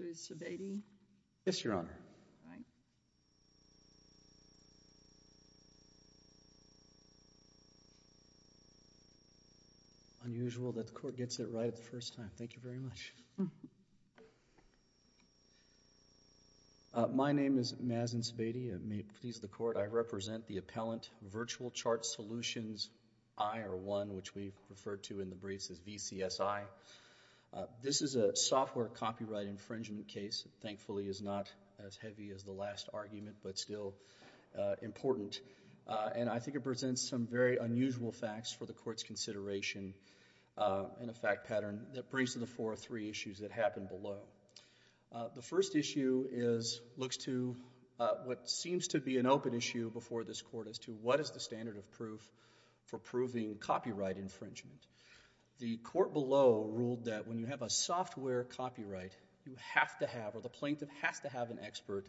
Mr. Sebade. Yes, Your Honor. Unusual that the Court gets it right the first time. Thank you very much. My name is Mazin Sebade. May it please the Court, I represent the Appellant Virtual Chart Solutions I or I, which we refer to in the briefs as VCSI. This is a software copyright infringement case. Thankfully, it's not as heavy as the last argument, but still important. And I think it presents some very unusual facts for the Court's consideration in a fact pattern that brings to the fore three issues that happen below. The first issue looks to what seems to be an open issue before this Court as to what is the standard of proof for proving copyright infringement. The Court below ruled that when you have a software copyright, you have to have, or the plaintiff has to have an expert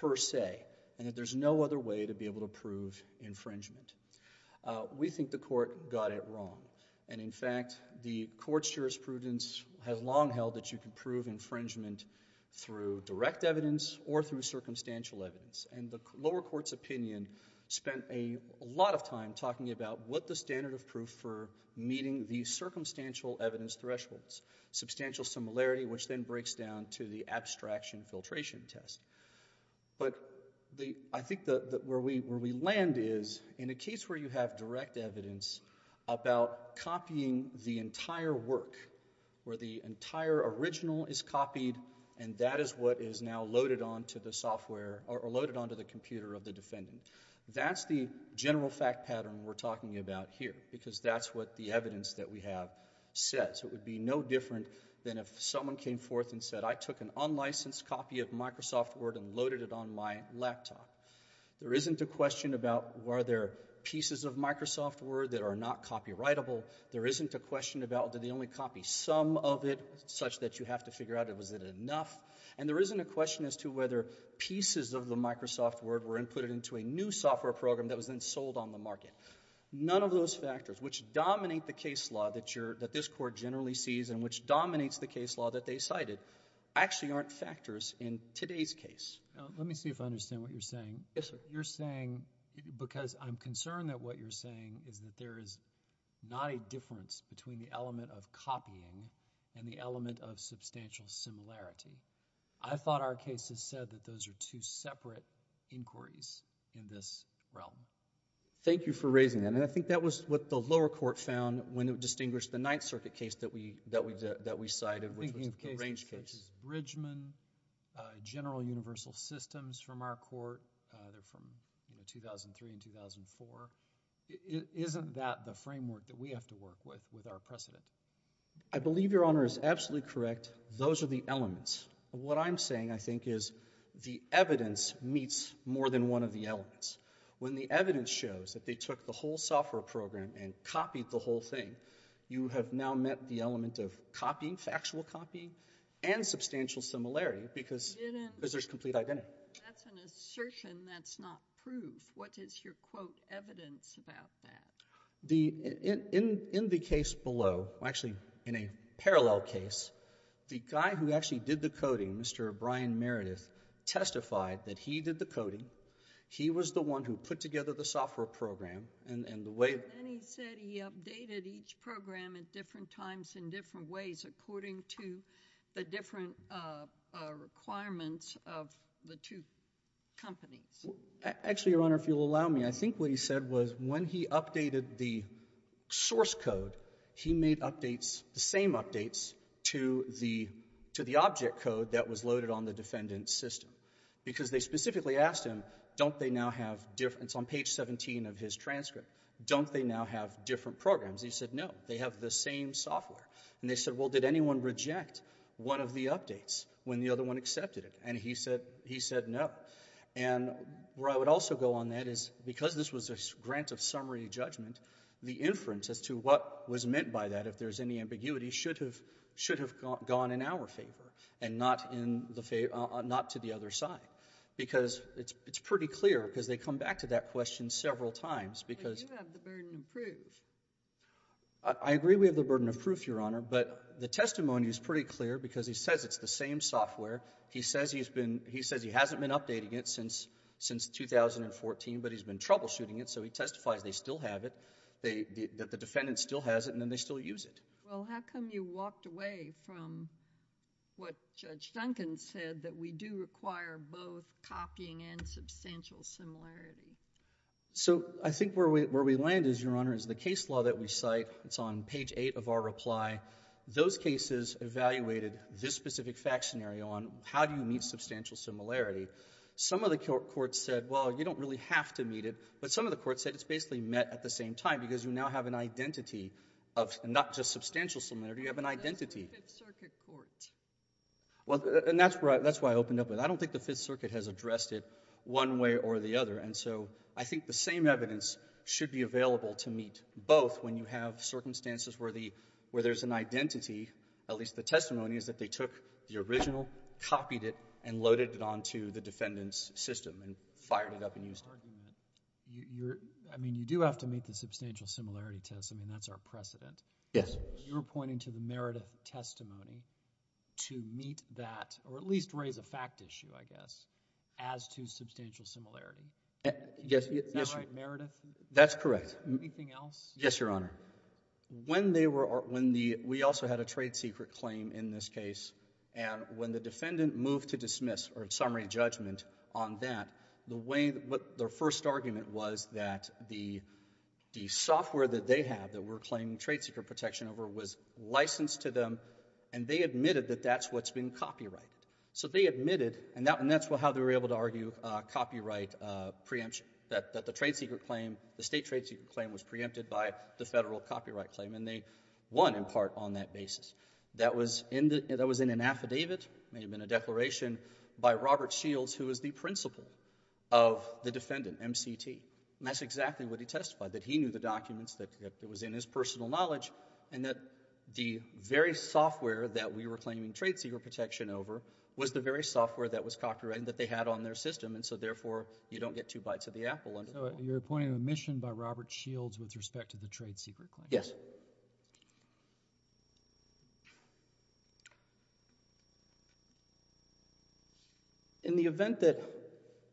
per se, and that there's no other way to be able to prove infringement. We think the Court got it wrong. And in fact, the Court's jurisprudence has long held that you can prove infringement through direct evidence or through circumstantial evidence. And the lower Court's opinion spent a lot of time talking about what the standard of proof for meeting the circumstantial evidence thresholds. Substantial similarity, which then breaks down to the abstraction filtration test. But I think where we land is, in a case where you have direct evidence about copying the entire work, where the entire original is copied, and that is what is now loaded onto the software, or loaded onto the computer of the defendant. That's the general fact pattern we're talking about here, because that's what the evidence that we have says. It would be no different than if someone came forth and said, I took an unlicensed copy of Microsoft Word and loaded it on my laptop. There isn't a question about, were there pieces of Microsoft Word that are not copyrightable? There isn't a question about, did they only copy some of it, such that you have to figure out, was it enough? And there isn't a question as to whether pieces of the Microsoft Word were inputted into a new software program that was then sold on the market. None of those factors, which dominate the case law that this Court generally sees and which dominates the case law that they cited, actually aren't factors in today's case. Yes, sir. What you're saying, because I'm concerned that what you're saying is that there is not a difference between the element of copying and the element of substantial similarity. I thought our case has said that those are two separate inquiries in this realm. Thank you for raising that, and I think that was what the lower court found when it distinguished the Ninth Circuit case that we cited, which was the range case. This is Bridgman, General Universal Systems from our court. They're from 2003 and 2004. Isn't that the framework that we have to work with, with our precedent? I believe Your Honor is absolutely correct. Those are the elements. What I'm saying, I think, is the evidence meets more than one of the elements. When the evidence shows that they took the whole software program and copied the whole thing, you have now met the element of copying, factual copying, and substantial similarity, because there's complete identity. That's an assertion that's not proof. What is your quote evidence about that? In the case below, actually in a parallel case, the guy who actually did the coding, Mr. Brian Meredith, testified that he did the coding. He was the one who put together the software program, and the way... I think what he said was when he updated the source code, he made updates, the same updates, to the object code that was loaded on the defendant's system, because they specifically asked him, don't they now have... It's on page 17 of his transcript. Don't they now have different programs? He said, no. They have the same software. They said, well, did anyone reject one of the updates when the other one accepted it? He said, no. Where I would also go on that is because this was a grant of summary judgment, the inference as to what was meant by that, if there's any ambiguity, should have gone in our favor, and not to the other side, because it's pretty clear, because they come back to that question several times, because... But you have the burden of proof. I agree we have the burden of proof, Your Honor, but the testimony is pretty clear, because he says it's the same software. He says he's been... He says he hasn't been updating it since 2014, but he's been troubleshooting it, so he testifies they still have it, that the defendant still has it, and then they still use it. Well, how come you walked away from what Judge Duncan said, that we do require both copying and substantial similarity? So I think where we land is, Your Honor, is the case law that we cite. It's on page eight of our reply. Those cases evaluated this specific fact scenario on how do you meet substantial similarity. Some of the courts said, well, you don't really have to meet it, but some of the courts said it's basically met at the same time, because you now have an identity of not just substantial similarity, you have an identity. That's the Fifth Circuit court. Well, and that's where I... That's where I opened up with it. I don't think the Fifth Circuit has addressed it one way or the other, and so I think the same evidence should be available to meet both when you have circumstances where there's an identity, at least the testimony is that they took the original, copied it, and loaded it onto the defendant's system and fired it up and used it. I mean, you do have to meet the substantial similarity test. I mean, that's our precedent. Yes. You're pointing to the Meredith testimony to meet that, or at least raise a fact issue, I guess, as to substantial similarity. Yes. Is that right, Meredith? That's correct. Anything else? Yes, Your Honor. When they were... When the... We also had a trade secret claim in this case, and when the defendant moved to dismiss or summary judgment on that, the way... Their first argument was that the software that they have that we're claiming trade secret protection over was licensed to them, and they admitted that that's what's been copyrighted. So they admitted, and that's how they were able to argue copyright preemption, that the trade secret claim, the state trade secret claim, was preempted by the federal copyright claim, and they won in part on that basis. That was in an affidavit. It may have been a declaration by Robert Shields, who is the principal of the defendant, MCT, and that's exactly what he testified, that he knew the documents, that it was in his personal knowledge, and that the very software that we were claiming trade secret protection over was the very software that was copyrighted, and that they had on their system, and so therefore, you don't get two bites of the apple under the law. So you're pointing to a mission by Robert Shields with respect to the trade secret claims? Yes. In the event that,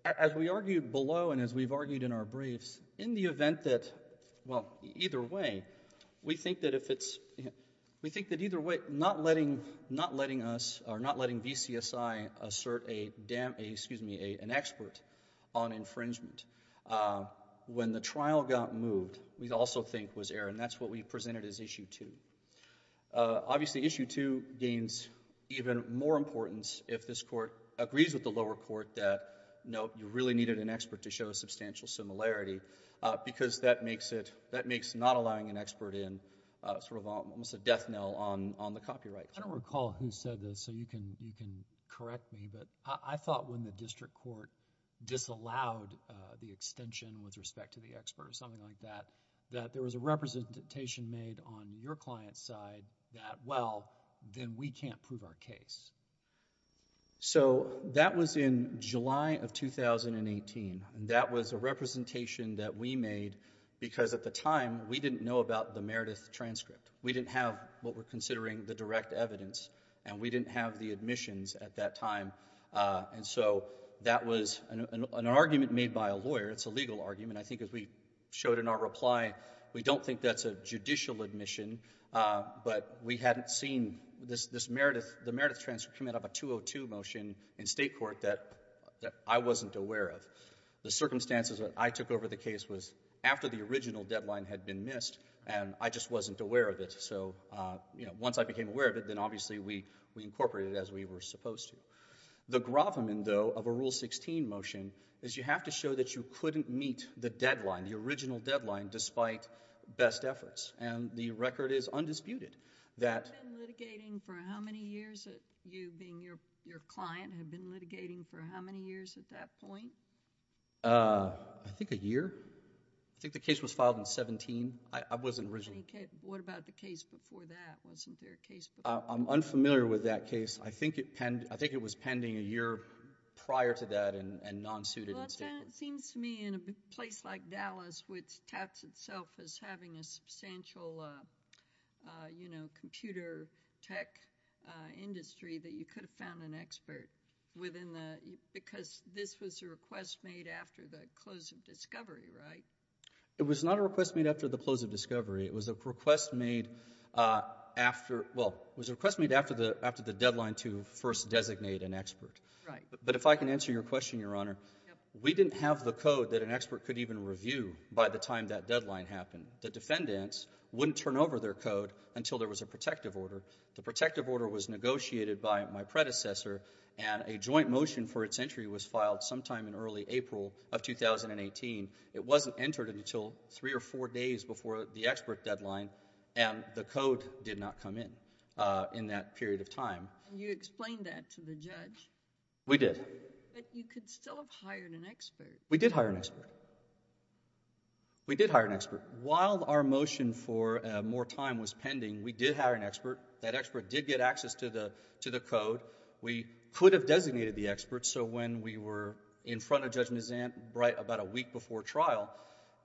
as we argued below, and as we've argued in our briefs, in the event that, well, either way, we think that if it's, we think that either way, not letting, not letting us, or not letting VCSI assert a, excuse me, an expert on infringement, when the trial got moved, we'd also think was error, and that's what we presented as Issue 2. Obviously, Issue 2 gains even more importance if this Court agrees with the lower court that, no, you really needed an expert to show substantial similarity, because that makes it, that makes not allowing an expert in sort of almost a death knell on, on the copyright claim. I don't recall who said this, so you can, you can correct me, but I thought when the expert or something like that, that there was a representation made on your client's side that, well, then we can't prove our case. So that was in July of 2018, and that was a representation that we made, because at the time, we didn't know about the Meredith transcript. We didn't have what we're considering the direct evidence, and we didn't have the admissions at that time, and so that was an, an argument made by a lawyer, it's a legal argument, I think, as we showed in our reply, we don't think that's a judicial admission, but we hadn't seen this, this Meredith, the Meredith transcript coming out of a 202 motion in State Court that, that I wasn't aware of. The circumstances that I took over the case was after the original deadline had been missed, and I just wasn't aware of it, so, you know, once I became aware of it, then obviously we, we incorporated it as we were supposed to. The Groffman, though, of a Rule 16 motion, is you have to show that you couldn't meet the deadline, the original deadline, despite best efforts, and the record is undisputed that... You've been litigating for how many years, you being your, your client, have been litigating for how many years at that point? Uh, I think a year. I think the case was filed in 17. I, I wasn't originally... What about the case before that? Wasn't there a case before that? Uh, I'm unfamiliar with that case. I think it, I think it was pending a year prior to that, and, and non-suited... Well, it seems to me, in a place like Dallas, which touts itself as having a substantial, uh, uh, you know, computer tech, uh, industry, that you could have found an expert within the, because this was a request made after the close of discovery, right? It was not a request made after the close of discovery. It was a request made, uh, after, well, it was a request made after the, after the deadline to first designate an expert. Right. But if I can answer your question, Your Honor, we didn't have the code that an expert could even review by the time that deadline happened. The defendants wouldn't turn over their code until there was a protective order. The protective order was negotiated by my predecessor, and a joint motion for its entry was filed sometime in early April of 2018. It wasn't entered until three or four days before the expert deadline, and the code did not come in, uh, in that period of time. You explained that to the judge? We did. But you could still have hired an expert. We did hire an expert. We did hire an expert. While our motion for, uh, more time was pending, we did hire an expert. That expert did get access to the, to the code. We could have designated the expert, so when we were in front of Judge Mizant, right, about a week before trial,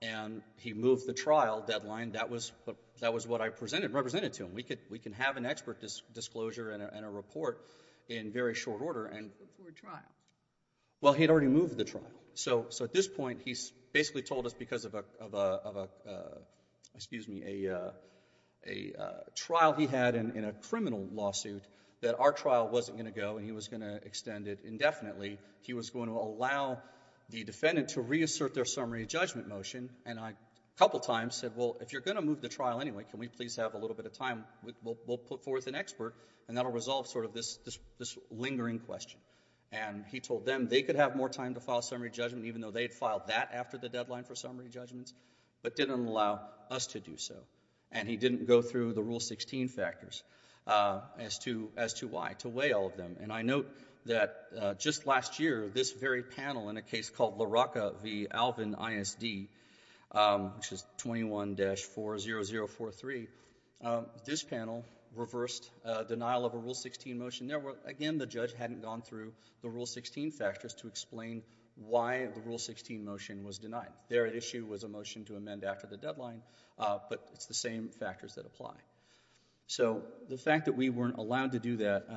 and he moved the trial deadline, that was, that was what I presented, represented to him. We could, we can have an expert disclosure and a, and a report in very short order and... Before trial. Well, he'd already moved the trial. So, so at this point, he's basically told us because of a, of a, of a, excuse me, a, a trial he had in, in a criminal lawsuit that our trial wasn't going to go and he was going to extend it indefinitely. He was going to allow the defendant to reassert their summary judgment motion, and I, a couple times said, well, if you're going to move the trial anyway, can we please have a little bit of time? We'll, we'll put forth an expert and that'll resolve sort of this, this, this lingering question. And he told them they could have more time to file a summary judgment even though they'd filed that after the deadline for summary judgments, but didn't allow us to do so. And he didn't go through the Rule 16 factors as to, as to why, to weigh all of them. And I note that just last year, this very panel in a case called LaRocca v. Alvin ISD, which is 21-40043, this panel reversed denial of a Rule 16 motion. There were, again, the judge hadn't gone through the Rule 16 factors to explain why the Rule 16 motion was denied. Their issue was a motion to amend after the deadline, but it's the same factors that apply. So the fact that we weren't allowed to do that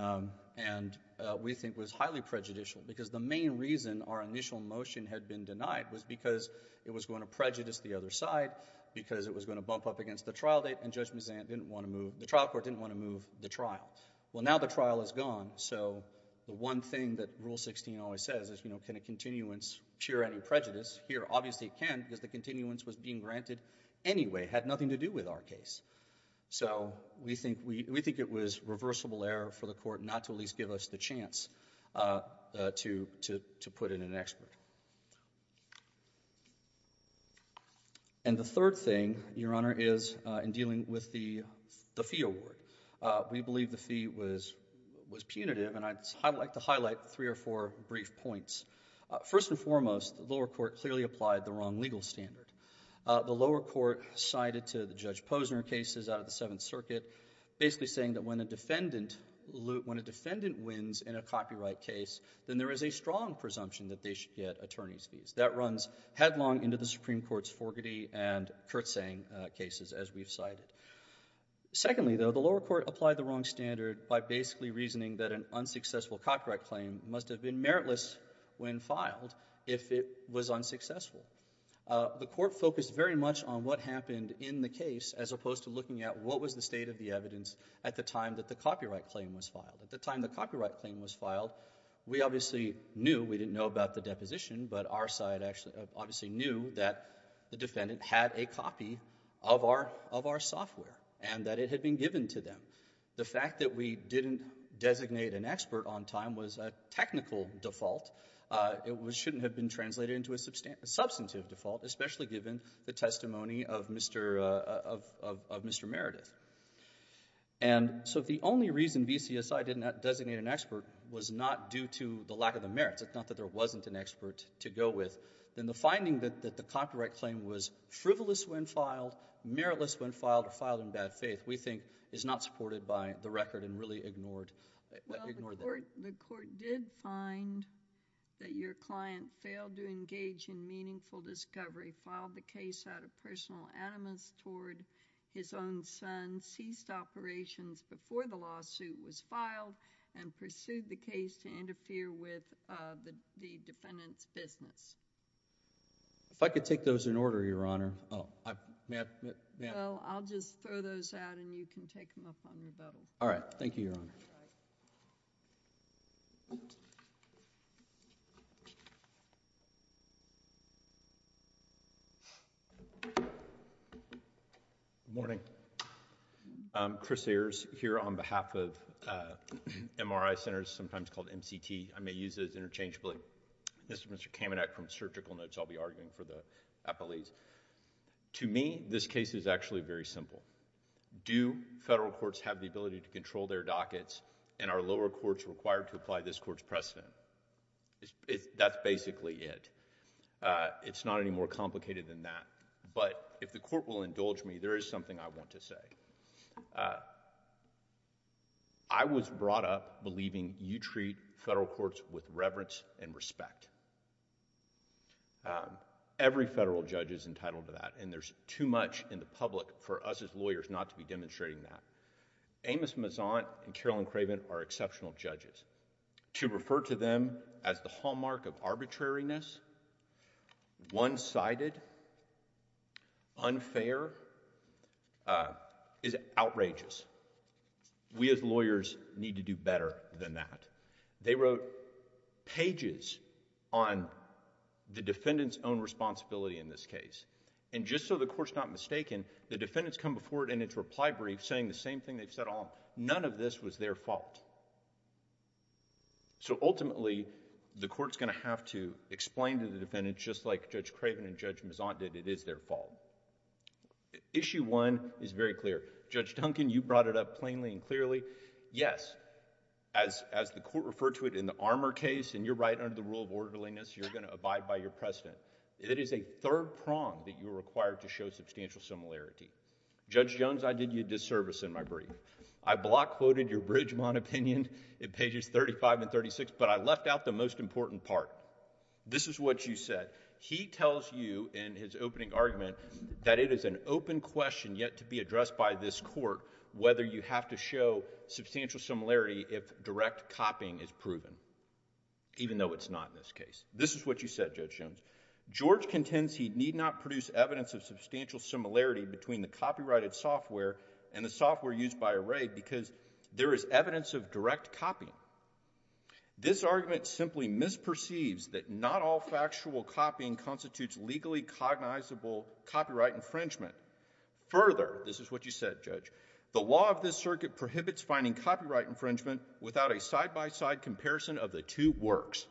and we think was highly prejudicial because the main reason our initial motion had been denied was because it was going to prejudice the other side, because it was going to bump up against the trial date and Judge Mazzant didn't want to move, the trial court didn't want to move the trial. Well now the trial is gone, so the one thing that Rule 16 always says is, you know, can a continuance cure any prejudice? Here obviously it can because the continuance was being granted anyway, had nothing to do with our case. So we think, we, we think it was reversible error for the court not to at least give us the chance to, to, to put in an expert. And the third thing, Your Honor, is in dealing with the, the fee award. We believe the fee was, was punitive and I'd like to highlight three or four brief points. First and foremost, the lower court clearly applied the wrong legal standard. The lower court cited to the Judge Posner cases out of the Seventh Circuit basically saying that when a defendant, when a defendant wins in a copyright case, then there is a strong presumption that they should get attorney's fees. That runs headlong into the Supreme Court's Forgaty and Kurtzang cases as we've cited. Secondly though, the lower court applied the wrong standard by basically reasoning that an unsuccessful copyright claim must have been meritless when filed if it was unsuccessful. The court focused very much on what happened in the case as opposed to looking at what was the state of the evidence at the time that the copyright claim was filed. At the time the copyright claim was filed, we obviously knew, we didn't know about the deposition, but our side actually, obviously knew that the defendant had a copy of our, of our software and that it had been given to them. The fact that we didn't designate an expert on time was a technical default. It was, shouldn't have been translated into a substantive default, especially given the And so if the only reason VCSI didn't designate an expert was not due to the lack of the merits, it's not that there wasn't an expert to go with, then the finding that the copyright claim was frivolous when filed, meritless when filed, or filed in bad faith, we think is not supported by the record and really ignored, ignored that. The court did find that your client failed to engage in meaningful discovery, filed the case, and ceased operations before the lawsuit was filed and pursued the case to interfere with the defendant's business. If I could take those in order, Your Honor. Oh, may I, may I? Well, I'll just throw those out and you can take them up on rebuttal. All right. Thank you, Your Honor. All right. Good morning. Good morning. I'm Chris Ayers here on behalf of MRI Center, sometimes called MCT, I may use it as interchangeably. This is Mr. Kamenak from Surgical Notes, I'll be arguing for the appellees. To me, this case is actually very simple. Do federal courts have the ability to control their dockets and are lower courts required to apply this court's precedent? That's basically it. It's not any more complicated than that, but if the court will indulge me, there is something I want to say. I was brought up believing you treat federal courts with reverence and respect. Every federal judge is entitled to that and there's too much in the public for us as lawyers not to be demonstrating that. Amos Mezant and Carolyn Craven are exceptional judges. To refer to them as the hallmark of arbitrariness, one-sided, unfair, is outrageous. We as lawyers need to do better than that. They wrote pages on the defendant's own responsibility in this case. Just so the court's not mistaken, the defendants come before it in its reply brief saying the same thing they've said all... none of this was their fault. Ultimately, the court's going to have to explain to the defendant just like Judge Craven and Judge Mezant did, it is their fault. Issue one is very clear. Judge Duncan, you brought it up plainly and clearly. Yes, as the court referred to it in the Armour case and you're right under the rule of orderliness, you're going to abide by your precedent. It is a third prong that you're required to show substantial similarity. Judge Jones, I did you a disservice in my brief. I block quoted your Bridgemont opinion in pages thirty-five and thirty-six, but I left out the most important part. This is what you said. He tells you in his opening argument that it is an open question yet to be addressed by this court whether you have to show substantial similarity if direct copying is proven, even though it's not in this case. This is what you said, Judge Jones. George contends he need not produce evidence of substantial similarity between the copyrighted and the copyrighted because there is evidence of direct copying. This argument simply misperceives that not all factual copying constitutes legally cognizable copyright infringement. Further, this is what you said, Judge, the law of this circuit prohibits finding copyright infringement without a side-by-side comparison of the two works.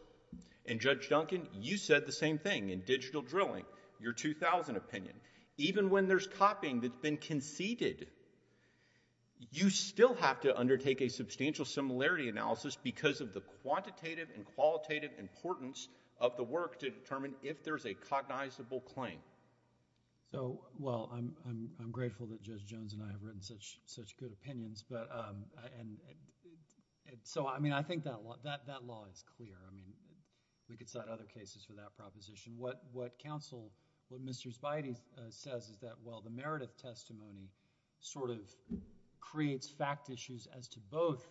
And Judge Duncan, you said the same thing in Digital Drilling, your 2000 opinion. Even when there's copying that's been conceded, you still have to undertake a substantial similarity analysis because of the quantitative and qualitative importance of the work to determine if there's a cognizable claim. So, well, I'm grateful that Judge Jones and I have written such good opinions, but, and, so I mean, I think that law, that law is clear, I mean, we can cite other cases for that proposition. What counsel, what Mr. Spidey says is that, well, the Meredith testimony sort of creates fact issues as to both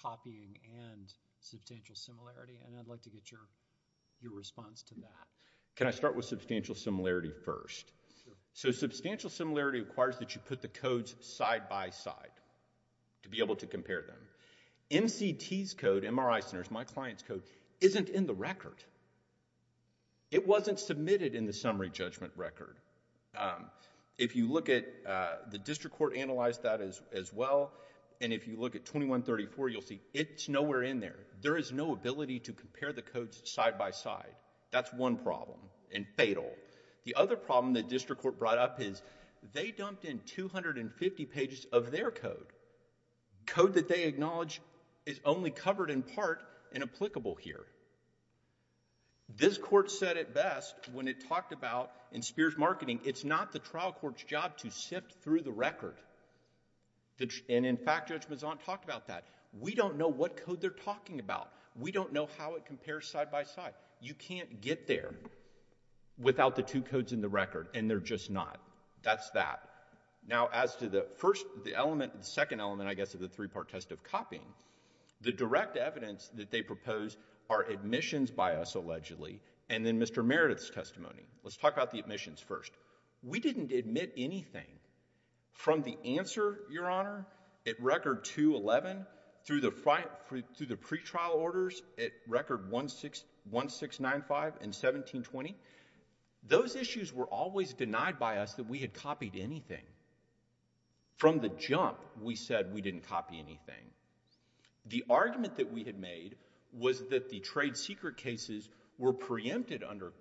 copying and substantial similarity, and I'd like to get your response to that. Can I start with substantial similarity first? Sure. So substantial similarity requires that you put the codes side-by-side to be able to compare them. MCT's code, MRI Center's, my client's code, isn't in the record. It wasn't submitted in the summary judgment record. If you look at, the district court analyzed that as well, and if you look at 2134, you'll see it's nowhere in there. There is no ability to compare the codes side-by-side. That's one problem, and fatal. The other problem the district court brought up is they dumped in 250 pages of their code. Code that they acknowledge is only covered in part and applicable here. This court said it best when it talked about, in Spears Marketing, it's not the trial court's job to sift through the record, and in fact, Judge Mazzant talked about that. We don't know what code they're talking about. We don't know how it compares side-by-side. You can't get there without the two codes in the record, and they're just not. That's that. Now, as to the first, the element, the second element, I guess, of the three-part test of copying, the direct evidence that they propose are admissions by us allegedly, and then Mr. Meredith's testimony. Let's talk about the admissions first. We didn't admit anything from the answer, Your Honor, at record 211 through the pre-trial orders at record 1695 and 1720. Those issues were always denied by us that we had copied anything. From the jump, we said we didn't copy anything. The argument that we had made was that the trade secret cases were preempted under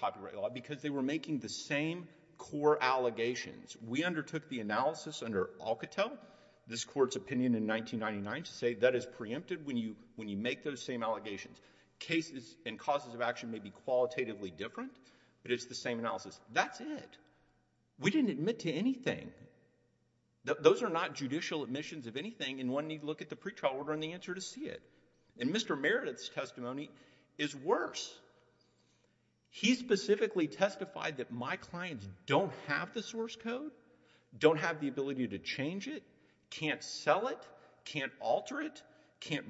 copyright law because they were making the same core allegations. We undertook the analysis under Alcatel, this court's opinion in 1999, to say that is preempted when you make those same allegations. Cases and causes of action may be qualitatively different, but it's the same analysis. That's it. We didn't admit to anything. Those are not judicial admissions of anything, and one need look at the pre-trial order and the answer to see it. Mr. Meredith's testimony is worse. He specifically testified that my clients don't have the source code, don't have the source code.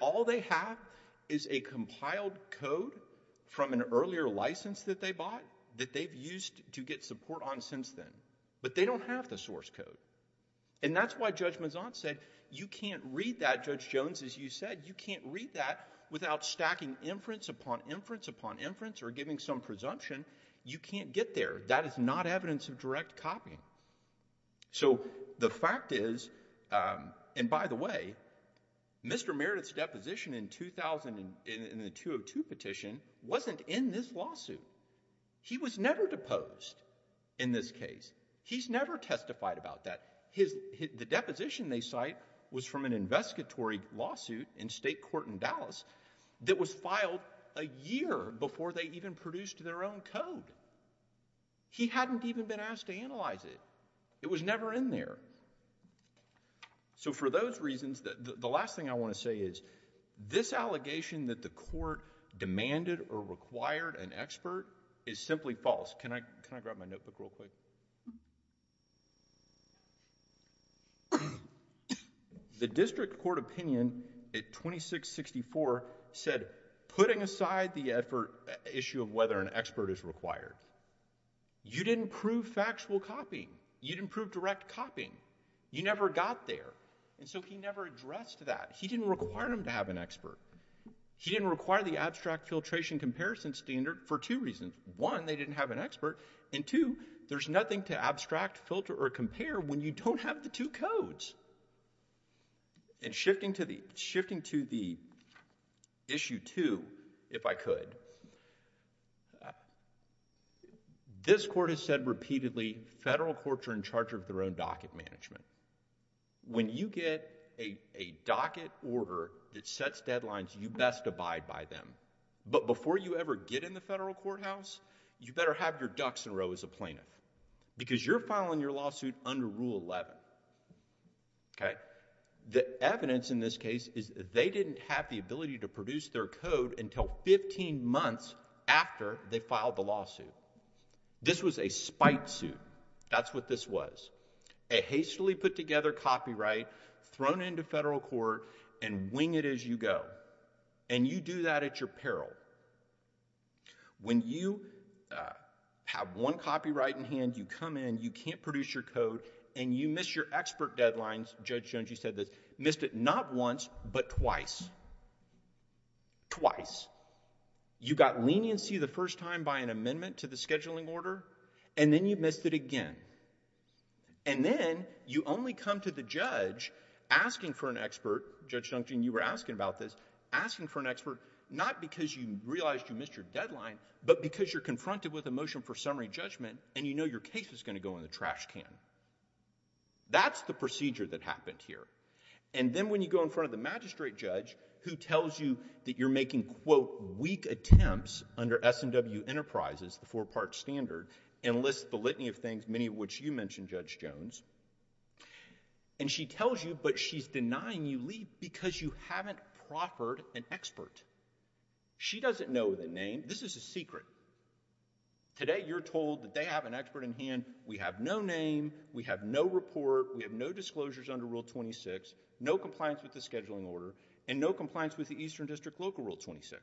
All they have is a compiled code from an earlier license that they bought that they've used to get support on since then, but they don't have the source code, and that's why Judge Mazant said you can't read that, Judge Jones, as you said, you can't read that without stacking inference upon inference upon inference or giving some presumption. You can't get there. That is not evidence of direct copying. So, the fact is, and by the way, Mr. Meredith's deposition in the 2002 petition wasn't in this lawsuit. He was never deposed in this case. He's never testified about that. The deposition they cite was from an investigatory lawsuit in state court in Dallas that was filed a year before they even produced their own code. He hadn't even been asked to analyze it. It was never in there. So for those reasons, the last thing I want to say is this allegation that the court demanded or required an expert is simply false. Can I grab my notebook real quick? The district court opinion at 2664 said, putting aside the issue of whether an expert is required, you didn't prove factual copying. You didn't prove direct copying. You never got there. And so he never addressed that. He didn't require them to have an expert. He didn't require the abstract filtration comparison standard for two reasons. One, they didn't have an expert, and two, there's nothing to abstract, filter, or compare when you don't have the two codes. And shifting to the issue two, if I could, this court has said repeatedly federal courts are in charge of their own docket management. When you get a docket order that sets deadlines, you best abide by them. But before you ever get in the federal courthouse, you better have your ducks in a row as a plaintiff because you're filing your lawsuit under Rule 11, okay? The evidence in this case is they didn't have the ability to produce their code until fifteen months after they filed the lawsuit. This was a spite suit. That's what this was, a hastily put together copyright thrown into federal court and wing it as you go, and you do that at your peril. When you have one copyright in hand, you come in, you can't produce your code, and you miss your expert deadlines, Judge Jungee said this, missed it not once, but twice, twice. You got leniency the first time by an amendment to the scheduling order, and then you missed it again. And then, you only come to the judge asking for an expert, Judge Jungee, you were asking about this, asking for an expert, not because you realized you missed your deadline, but because you're confronted with a motion for summary judgment, and you know your case is going to go in the trash can. That's the procedure that happened here. And then, when you go in front of the magistrate judge, who tells you that you're making, quote, weak attempts under SNW Enterprises, the four-part standard, and lists the litany of things, many of which you mentioned, Judge Jones, and she tells you, but she's denying you leave because you haven't proffered an expert. She doesn't know the name. This is a secret. Today, you're told that they have an expert in hand. We have no name. We have no report. We have no disclosures under Rule 26, no compliance with the scheduling order, and no compliance with the Eastern District Local Rule 26.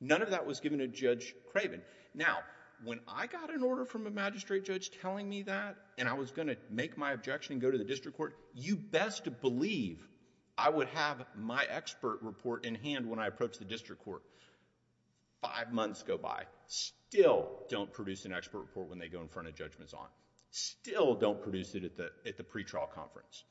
None of that was given to Judge Craven. Now, when I got an order from a magistrate judge telling me that, and I was going to make my objection and go to the district court, you best believe I would have my expert report in hand when I approach the district court. Five months go by. Still don't produce an expert report when they go in front of Judge Mazon. Still don't produce it at the pretrial conference.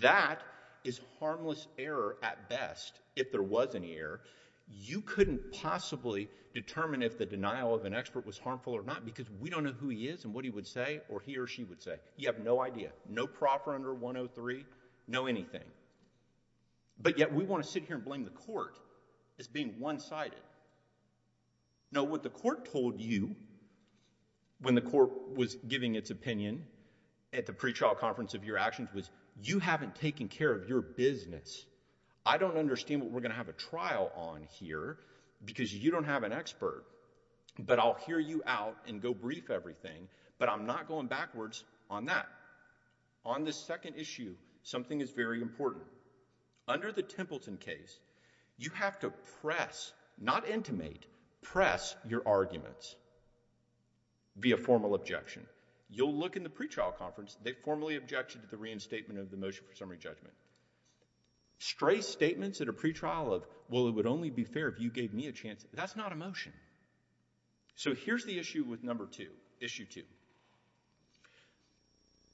That is harmless error at best, if there was any error. You couldn't possibly determine if the denial of an expert was harmful or not because we don't know who he is and what he would say or he or she would say. You have no idea. No proffer under 103, no anything. But yet, we want to sit here and blame the court as being one-sided. No, what the court told you when the court was giving its opinion at the pretrial conference of your actions was, you haven't taken care of your business. I don't understand what we're going to have a trial on here because you don't have an expert, but I'll hear you out and go brief everything, but I'm not going backwards on that. On this second issue, something is very important. Under the Templeton case, you have to press, not intimate, press your arguments via formal objection. You'll look in the pretrial conference, they formally objected to the reinstatement of the motion for summary judgment. Stray statements at a pretrial of, well, it would only be fair if you gave me a chance, that's not a motion. So, here's the issue with number two, issue two.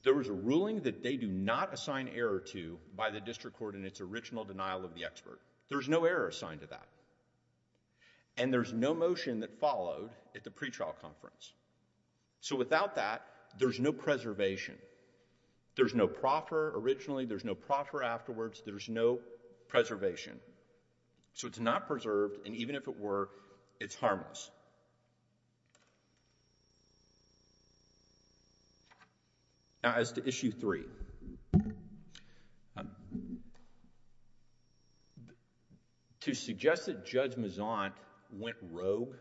There was a ruling that they do not assign error to by the district court in its original denial of the expert. There's no error assigned to that and there's no motion that followed at the pretrial conference. So without that, there's no preservation. There's no proffer originally, there's no proffer afterwards, there's no preservation. So it's not preserved and even if it were, it's harmless. Now, as to issue three. To suggest that Judge Mezant went rogue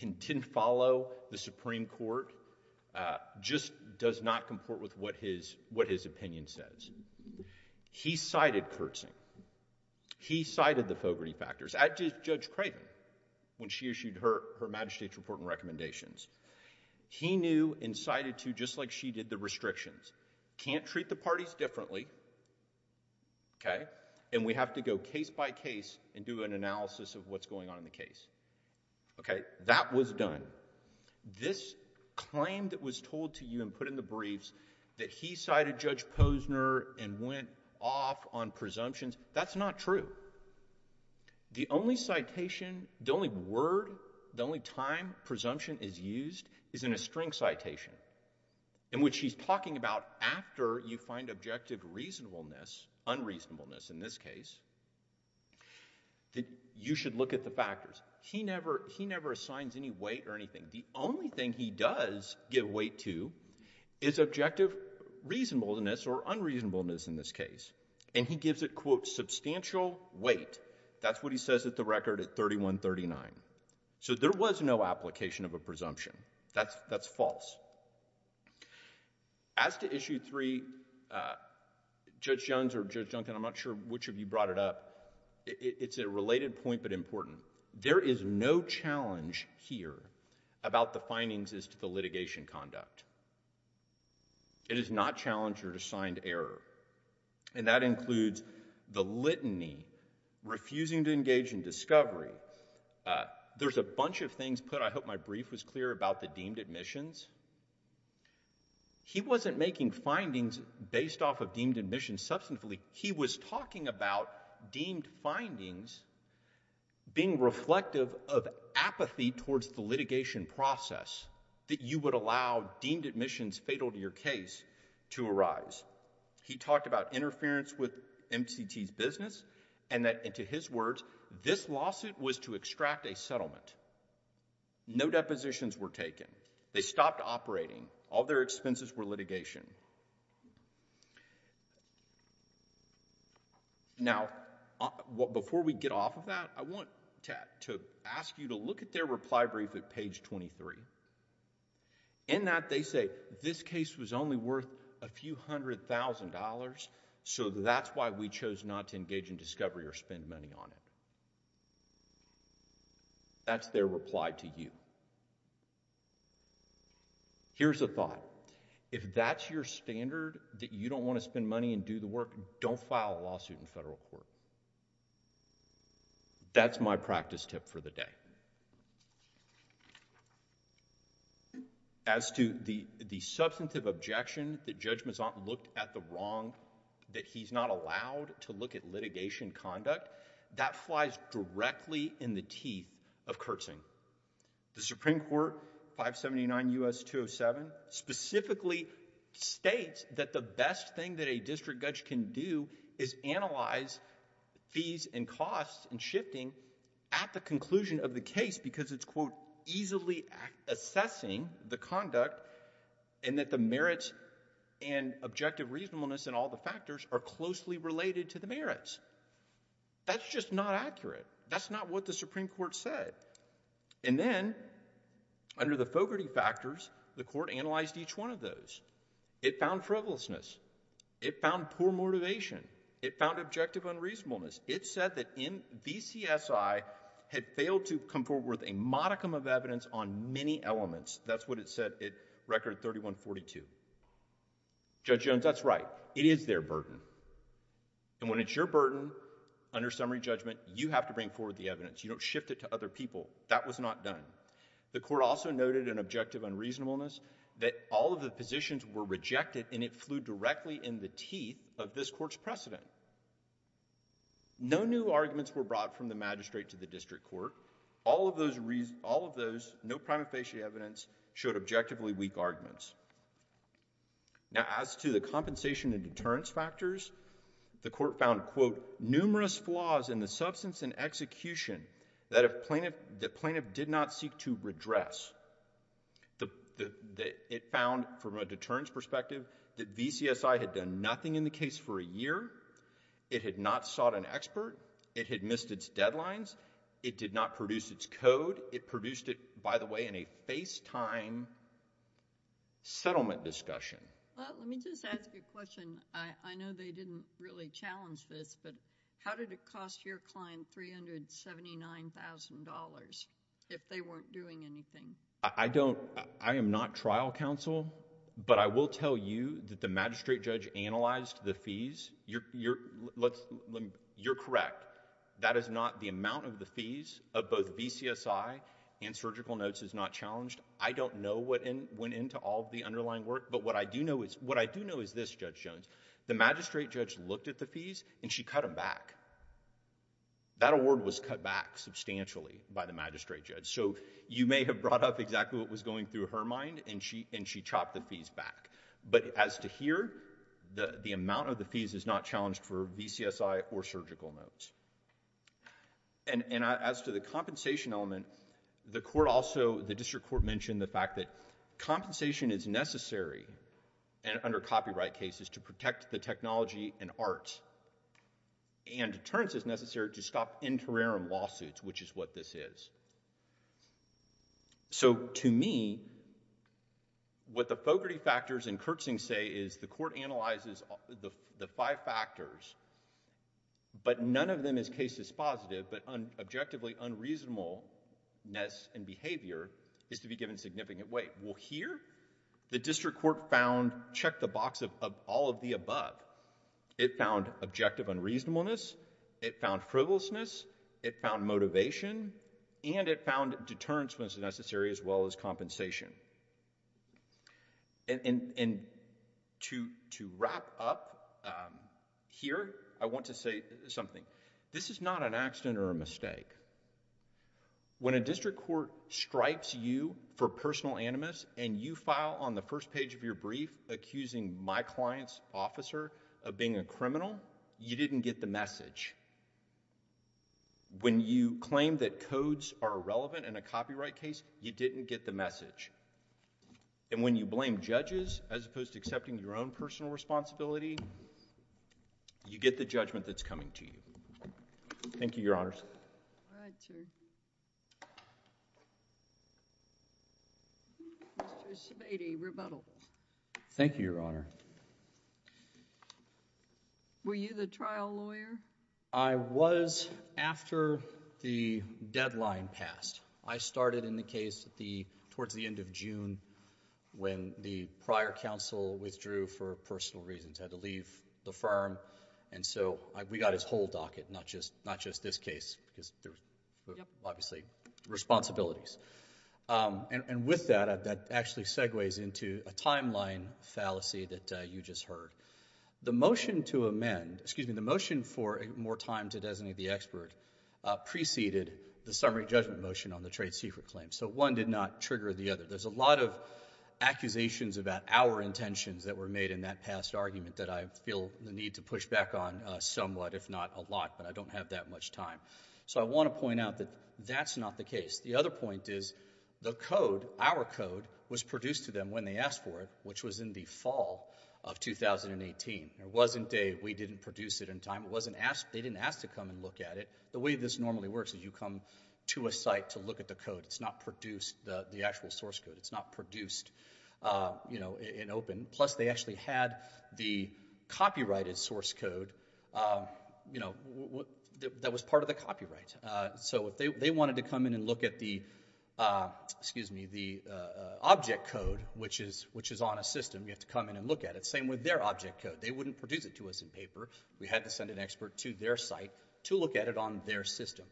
and didn't follow the Supreme Court just does not comport with what his opinion says. He cited curtsy. He cited the Fogarty factors. I did Judge Craven when she issued her magistrate's report and recommendations. He knew and cited to, just like she did, the restrictions. Can't treat the parties differently, okay, and we have to go case by case and do an analysis of what's going on in the case. Okay, that was done. This claim that was told to you and put in the briefs that he cited Judge Posner and went off on presumptions, that's not true. The only citation, the only word, the only time presumption is used is in a string citation in which he's talking about after you find objective reasonableness, unreasonableness in this case, that you should look at the factors. He never assigns any weight or anything. The only thing he does give weight to is objective reasonableness or unreasonableness in this case and he gives it, quote, substantial weight. That's what he says at the record at 3139. So there was no application of a presumption. That's false. As to issue three, Judge Jones or Judge Duncan, I'm not sure which of you brought it up, it's a related point but important. There is no challenge here about the findings as to the litigation conduct. It is not challenge or assigned error. And that includes the litany, refusing to engage in discovery. There's a bunch of things put, I hope my brief was clear, about the deemed admissions. He wasn't making findings based off of deemed admissions substantively. He was talking about deemed findings being reflective of apathy towards the litigation process that you would allow deemed admissions fatal to your case to arise. He talked about interference with MCT's business and that, into his words, this lawsuit was to extract a settlement. No depositions were taken. They stopped operating. All their expenses were litigation. Now before we get off of that, I want to ask you to look at their reply brief at page 23. In that they say, this case was only worth a few hundred thousand dollars, so that's why we chose not to engage in discovery or spend money on it. That's their reply to you. Here's a thought. If that's your standard, that you don't want to spend money and do the work, don't file a lawsuit in federal court. That's my practice tip for the day. As to the substantive objection that Judge Mazant looked at the wrong, that he's not allowed to look at litigation conduct, that flies directly in the teeth of Kurtzing. The Supreme Court, 579 U.S. 207, specifically states that the best thing that a district judge can do is analyze fees and costs and shifting at the conclusion of the case because it's quote, easily assessing the conduct and that the merits and objective reasonableness and all the factors are closely related to the merits. That's just not accurate. That's not what the Supreme Court said. And then, under the Fogarty factors, the court analyzed each one of those. It found frivolousness. It found poor motivation. It found objective unreasonableness. It said that VCSI had failed to come forward with a modicum of evidence on many elements. That's what it said at record 3142. Judge Jones, that's right. It is their burden. And when it's your burden, under summary judgment, you have to bring forward the evidence. You don't shift it to other people. That was not done. The court also noted an objective unreasonableness that all of the positions were rejected and it flew directly in the teeth of this court's precedent. No new arguments were brought from the magistrate to the district court. All of those, no prima facie evidence showed objectively weak arguments. Now, as to the compensation and deterrence factors, the court found, quote, numerous flaws in the substance and execution that the plaintiff did not seek to redress. It found, from a deterrence perspective, that VCSI had done nothing in the case for a year. It had not sought an expert. It had missed its deadlines. It did not produce its code. It produced it, by the way, in a FaceTime settlement discussion. Well, let me just ask you a question. I know they didn't really challenge this, but how did it cost your client $379,000 if they weren't doing anything? I don't... I am not trial counsel, but I will tell you that the magistrate judge analyzed the fees. You're correct. But, that is not the amount of the fees of both VCSI and surgical notes is not challenged. I don't know what went into all of the underlying work, but what I do know is this, Judge Jones. The magistrate judge looked at the fees and she cut them back. That award was cut back substantially by the magistrate judge, so you may have brought up exactly what was going through her mind and she chopped the fees back. But as to here, the amount of the fees is not challenged for VCSI or surgical notes. As to the compensation element, the court also, the district court mentioned the fact that compensation is necessary under copyright cases to protect the technology and art, and deterrence is necessary to stop interim lawsuits, which is what this is. So, to me, what the Fogarty factors and Kurtzing say is the court analyzes the five factors, but none of them is case is positive, but objectively unreasonableness and behavior is to be given significant weight. Well, here, the district court found, check the box of all of the above. It found objective unreasonableness. It found frivolousness. It found motivation and it found deterrence was necessary as well as compensation. And to wrap up here, I want to say something. This is not an accident or a mistake. When a district court stripes you for personal animus and you file on the first page of your brief accusing my client's officer of being a criminal, you didn't get the message. When you claim that codes are relevant in a copyright case, you didn't get the message. And when you blame judges as opposed to accepting your own personal responsibility, you get the judgment that's coming to you. Thank you, Your Honors. All right, sir. Mr. Sebade, rebuttal. Thank you, Your Honor. Were you the trial lawyer? I was after the deadline passed. I started in the case towards the end of June when the prior counsel withdrew for personal reasons, had to leave the firm. And so, we got his whole docket, not just this case because there were, obviously, responsibilities. And with that, that actually segues into a timeline fallacy that you just heard. The motion to amend... excuse me, the motion for more time to designate the expert preceded the summary judgment motion on the trade secret claim. So, one did not trigger the other. There's a lot of accusations about our intentions that were made in that past argument that I feel the need to push back on somewhat, if not a lot, but I don't have that much time. So, I want to point out that that's not the case. The other point is the code, our code, was produced to them when they asked for it, which was in the fall of 2018. There wasn't a, we didn't produce it in time. It wasn't asked, they didn't ask to come and look at it. The way this normally works is you come to a site to look at the code. It's not produced, the actual source code. It's not produced, you know, in open. Plus, they actually had the copyrighted source code, you know, that was part of the copyright. So, if they wanted to come in and look at the, excuse me, the object code, which is not on a system, you have to come in and look at it. Same with their object code. They wouldn't produce it to us in paper. We had to send an expert to their site to look at it on their system.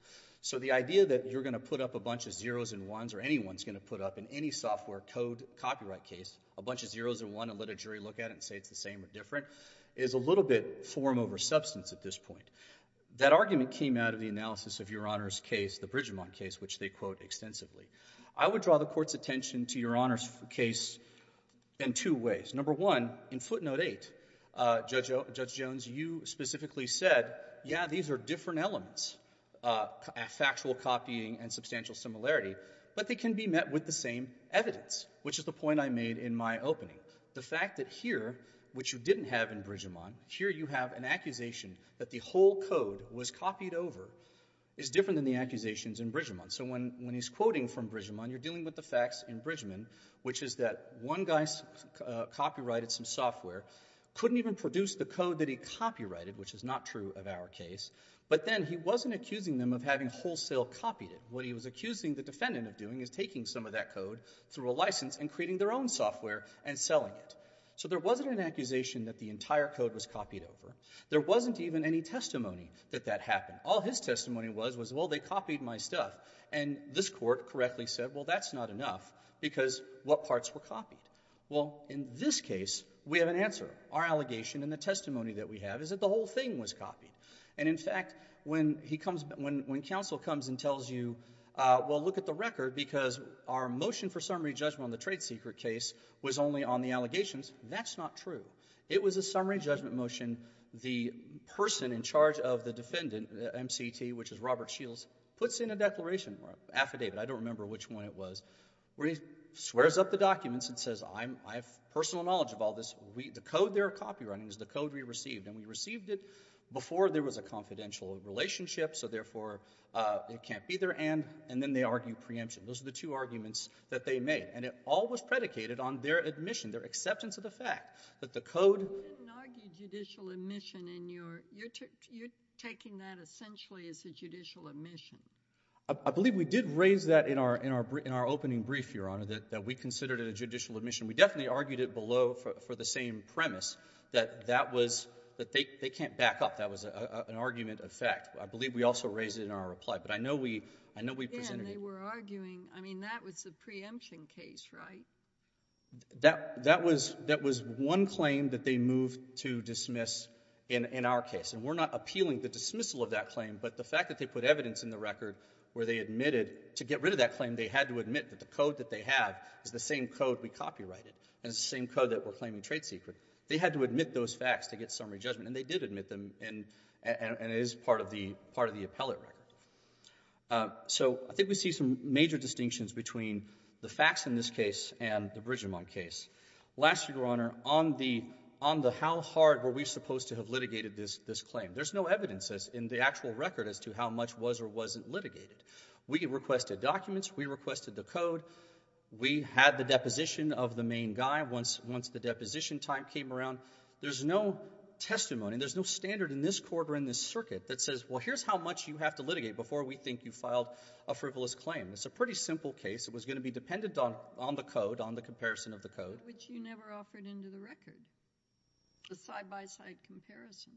So, the idea that you're going to put up a bunch of zeros and ones, or anyone's going to put up in any software code, copyright case, a bunch of zeros and one and let a jury look at it and say it's the same or different, is a little bit form over substance at this point. That argument came out of the analysis of Your Honor's case, the Bridgemon case, which they quote extensively. I would draw the Court's attention to Your Honor's case in two ways. Number one, in footnote eight, Judge Jones, you specifically said, yeah, these are different elements, factual copying and substantial similarity, but they can be met with the same evidence, which is the point I made in my opening. The fact that here, which you didn't have in Bridgemon, here you have an accusation that the whole code was copied over is different than the accusations in Bridgemon. So, when he's quoting from Bridgemon, you're dealing with the facts in Bridgemon, which is that one guy's copyrighted some software, couldn't even produce the code that he copyrighted, which is not true of our case, but then he wasn't accusing them of having wholesale copied it. What he was accusing the defendant of doing is taking some of that code through a license and creating their own software and selling it. So, there wasn't an accusation that the entire code was copied over. There wasn't even any testimony that that happened. All his testimony was, was, well, they copied my stuff. And this court correctly said, well, that's not enough because what parts were copied? Well, in this case, we have an answer. Our allegation and the testimony that we have is that the whole thing was copied. And in fact, when he comes, when, when counsel comes and tells you, well, look at the record because our motion for summary judgment on the trade secret case was only on the allegations, that's not true. It was a summary judgment motion. The person in charge of the defendant, MCT, which is Robert Shields, puts in a declaration or affidavit. I don't remember which one it was, where he swears up the documents and says, I'm, I have personal knowledge of all this. We, the code they're copywriting is the code we received. And we received it before there was a confidential relationship. So therefore, it can't be their end. And then they argue preemption. Those are the two arguments that they made. And it all was predicated on their admission, their acceptance of the fact that the code. You didn't argue judicial admission in your, you're taking that essentially as a judicial admission. I believe we did raise that in our, in our, in our opening brief, Your Honor, that, that we considered it a judicial admission. We definitely argued it below for, for the same premise. That, that was, that they, they can't back up. That was a, a, an argument of fact. I believe we also raised it in our reply. But I know we, I know we presented it. Yeah, and they were arguing, I mean, that was a preemption case, right? That, that was, that was one claim that they moved to dismiss in, in our case. And we're not appealing the dismissal of that claim, but the fact that they put evidence in the record where they admitted, to get rid of that claim, they had to admit that the code that they had is the same code we copyrighted, and it's the same code that we're claiming trade secret, they had to admit those facts to get summary judgment, and they did admit them, and, and, and it is part of the, part of the appellate record. So, I think we see some major distinctions between the facts in this case and the Bridgemont case. Last year, Your Honor, on the, on the how hard were we supposed to have litigated this, this claim, there's no evidence as, in the actual record, as to how much was or wasn't litigated. We requested documents, we requested the code. We had the deposition of the main guy once, once the deposition time came around. There's no testimony, there's no standard in this court or in this circuit, that says, well, here's how much you have to litigate before we think you filed a frivolous claim. It's a pretty simple case. It was going to be dependent on, on the code, on the comparison of the code. Which you never offered into the record, the side-by-side comparison.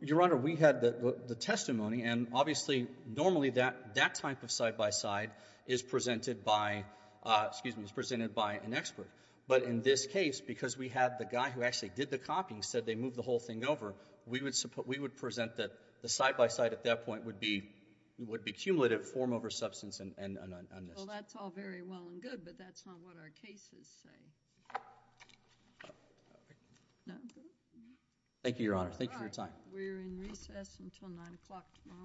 Your Honor, we had the, the testimony, and obviously, normally that, that type of side-by-side is presented by, excuse me, is presented by an expert. But in this case, because we had the guy who actually did the copying, said they moved the whole thing over, we would suppo-, we would present that the side-by-side at that point would be, would be cumulative form over substance and, and, and, and this. Well, that's all very well and good, but that's not what our cases say. Thank you, Your Honor. Thank you for your time. All right. We're in recess until 9 o'clock tomorrow morning.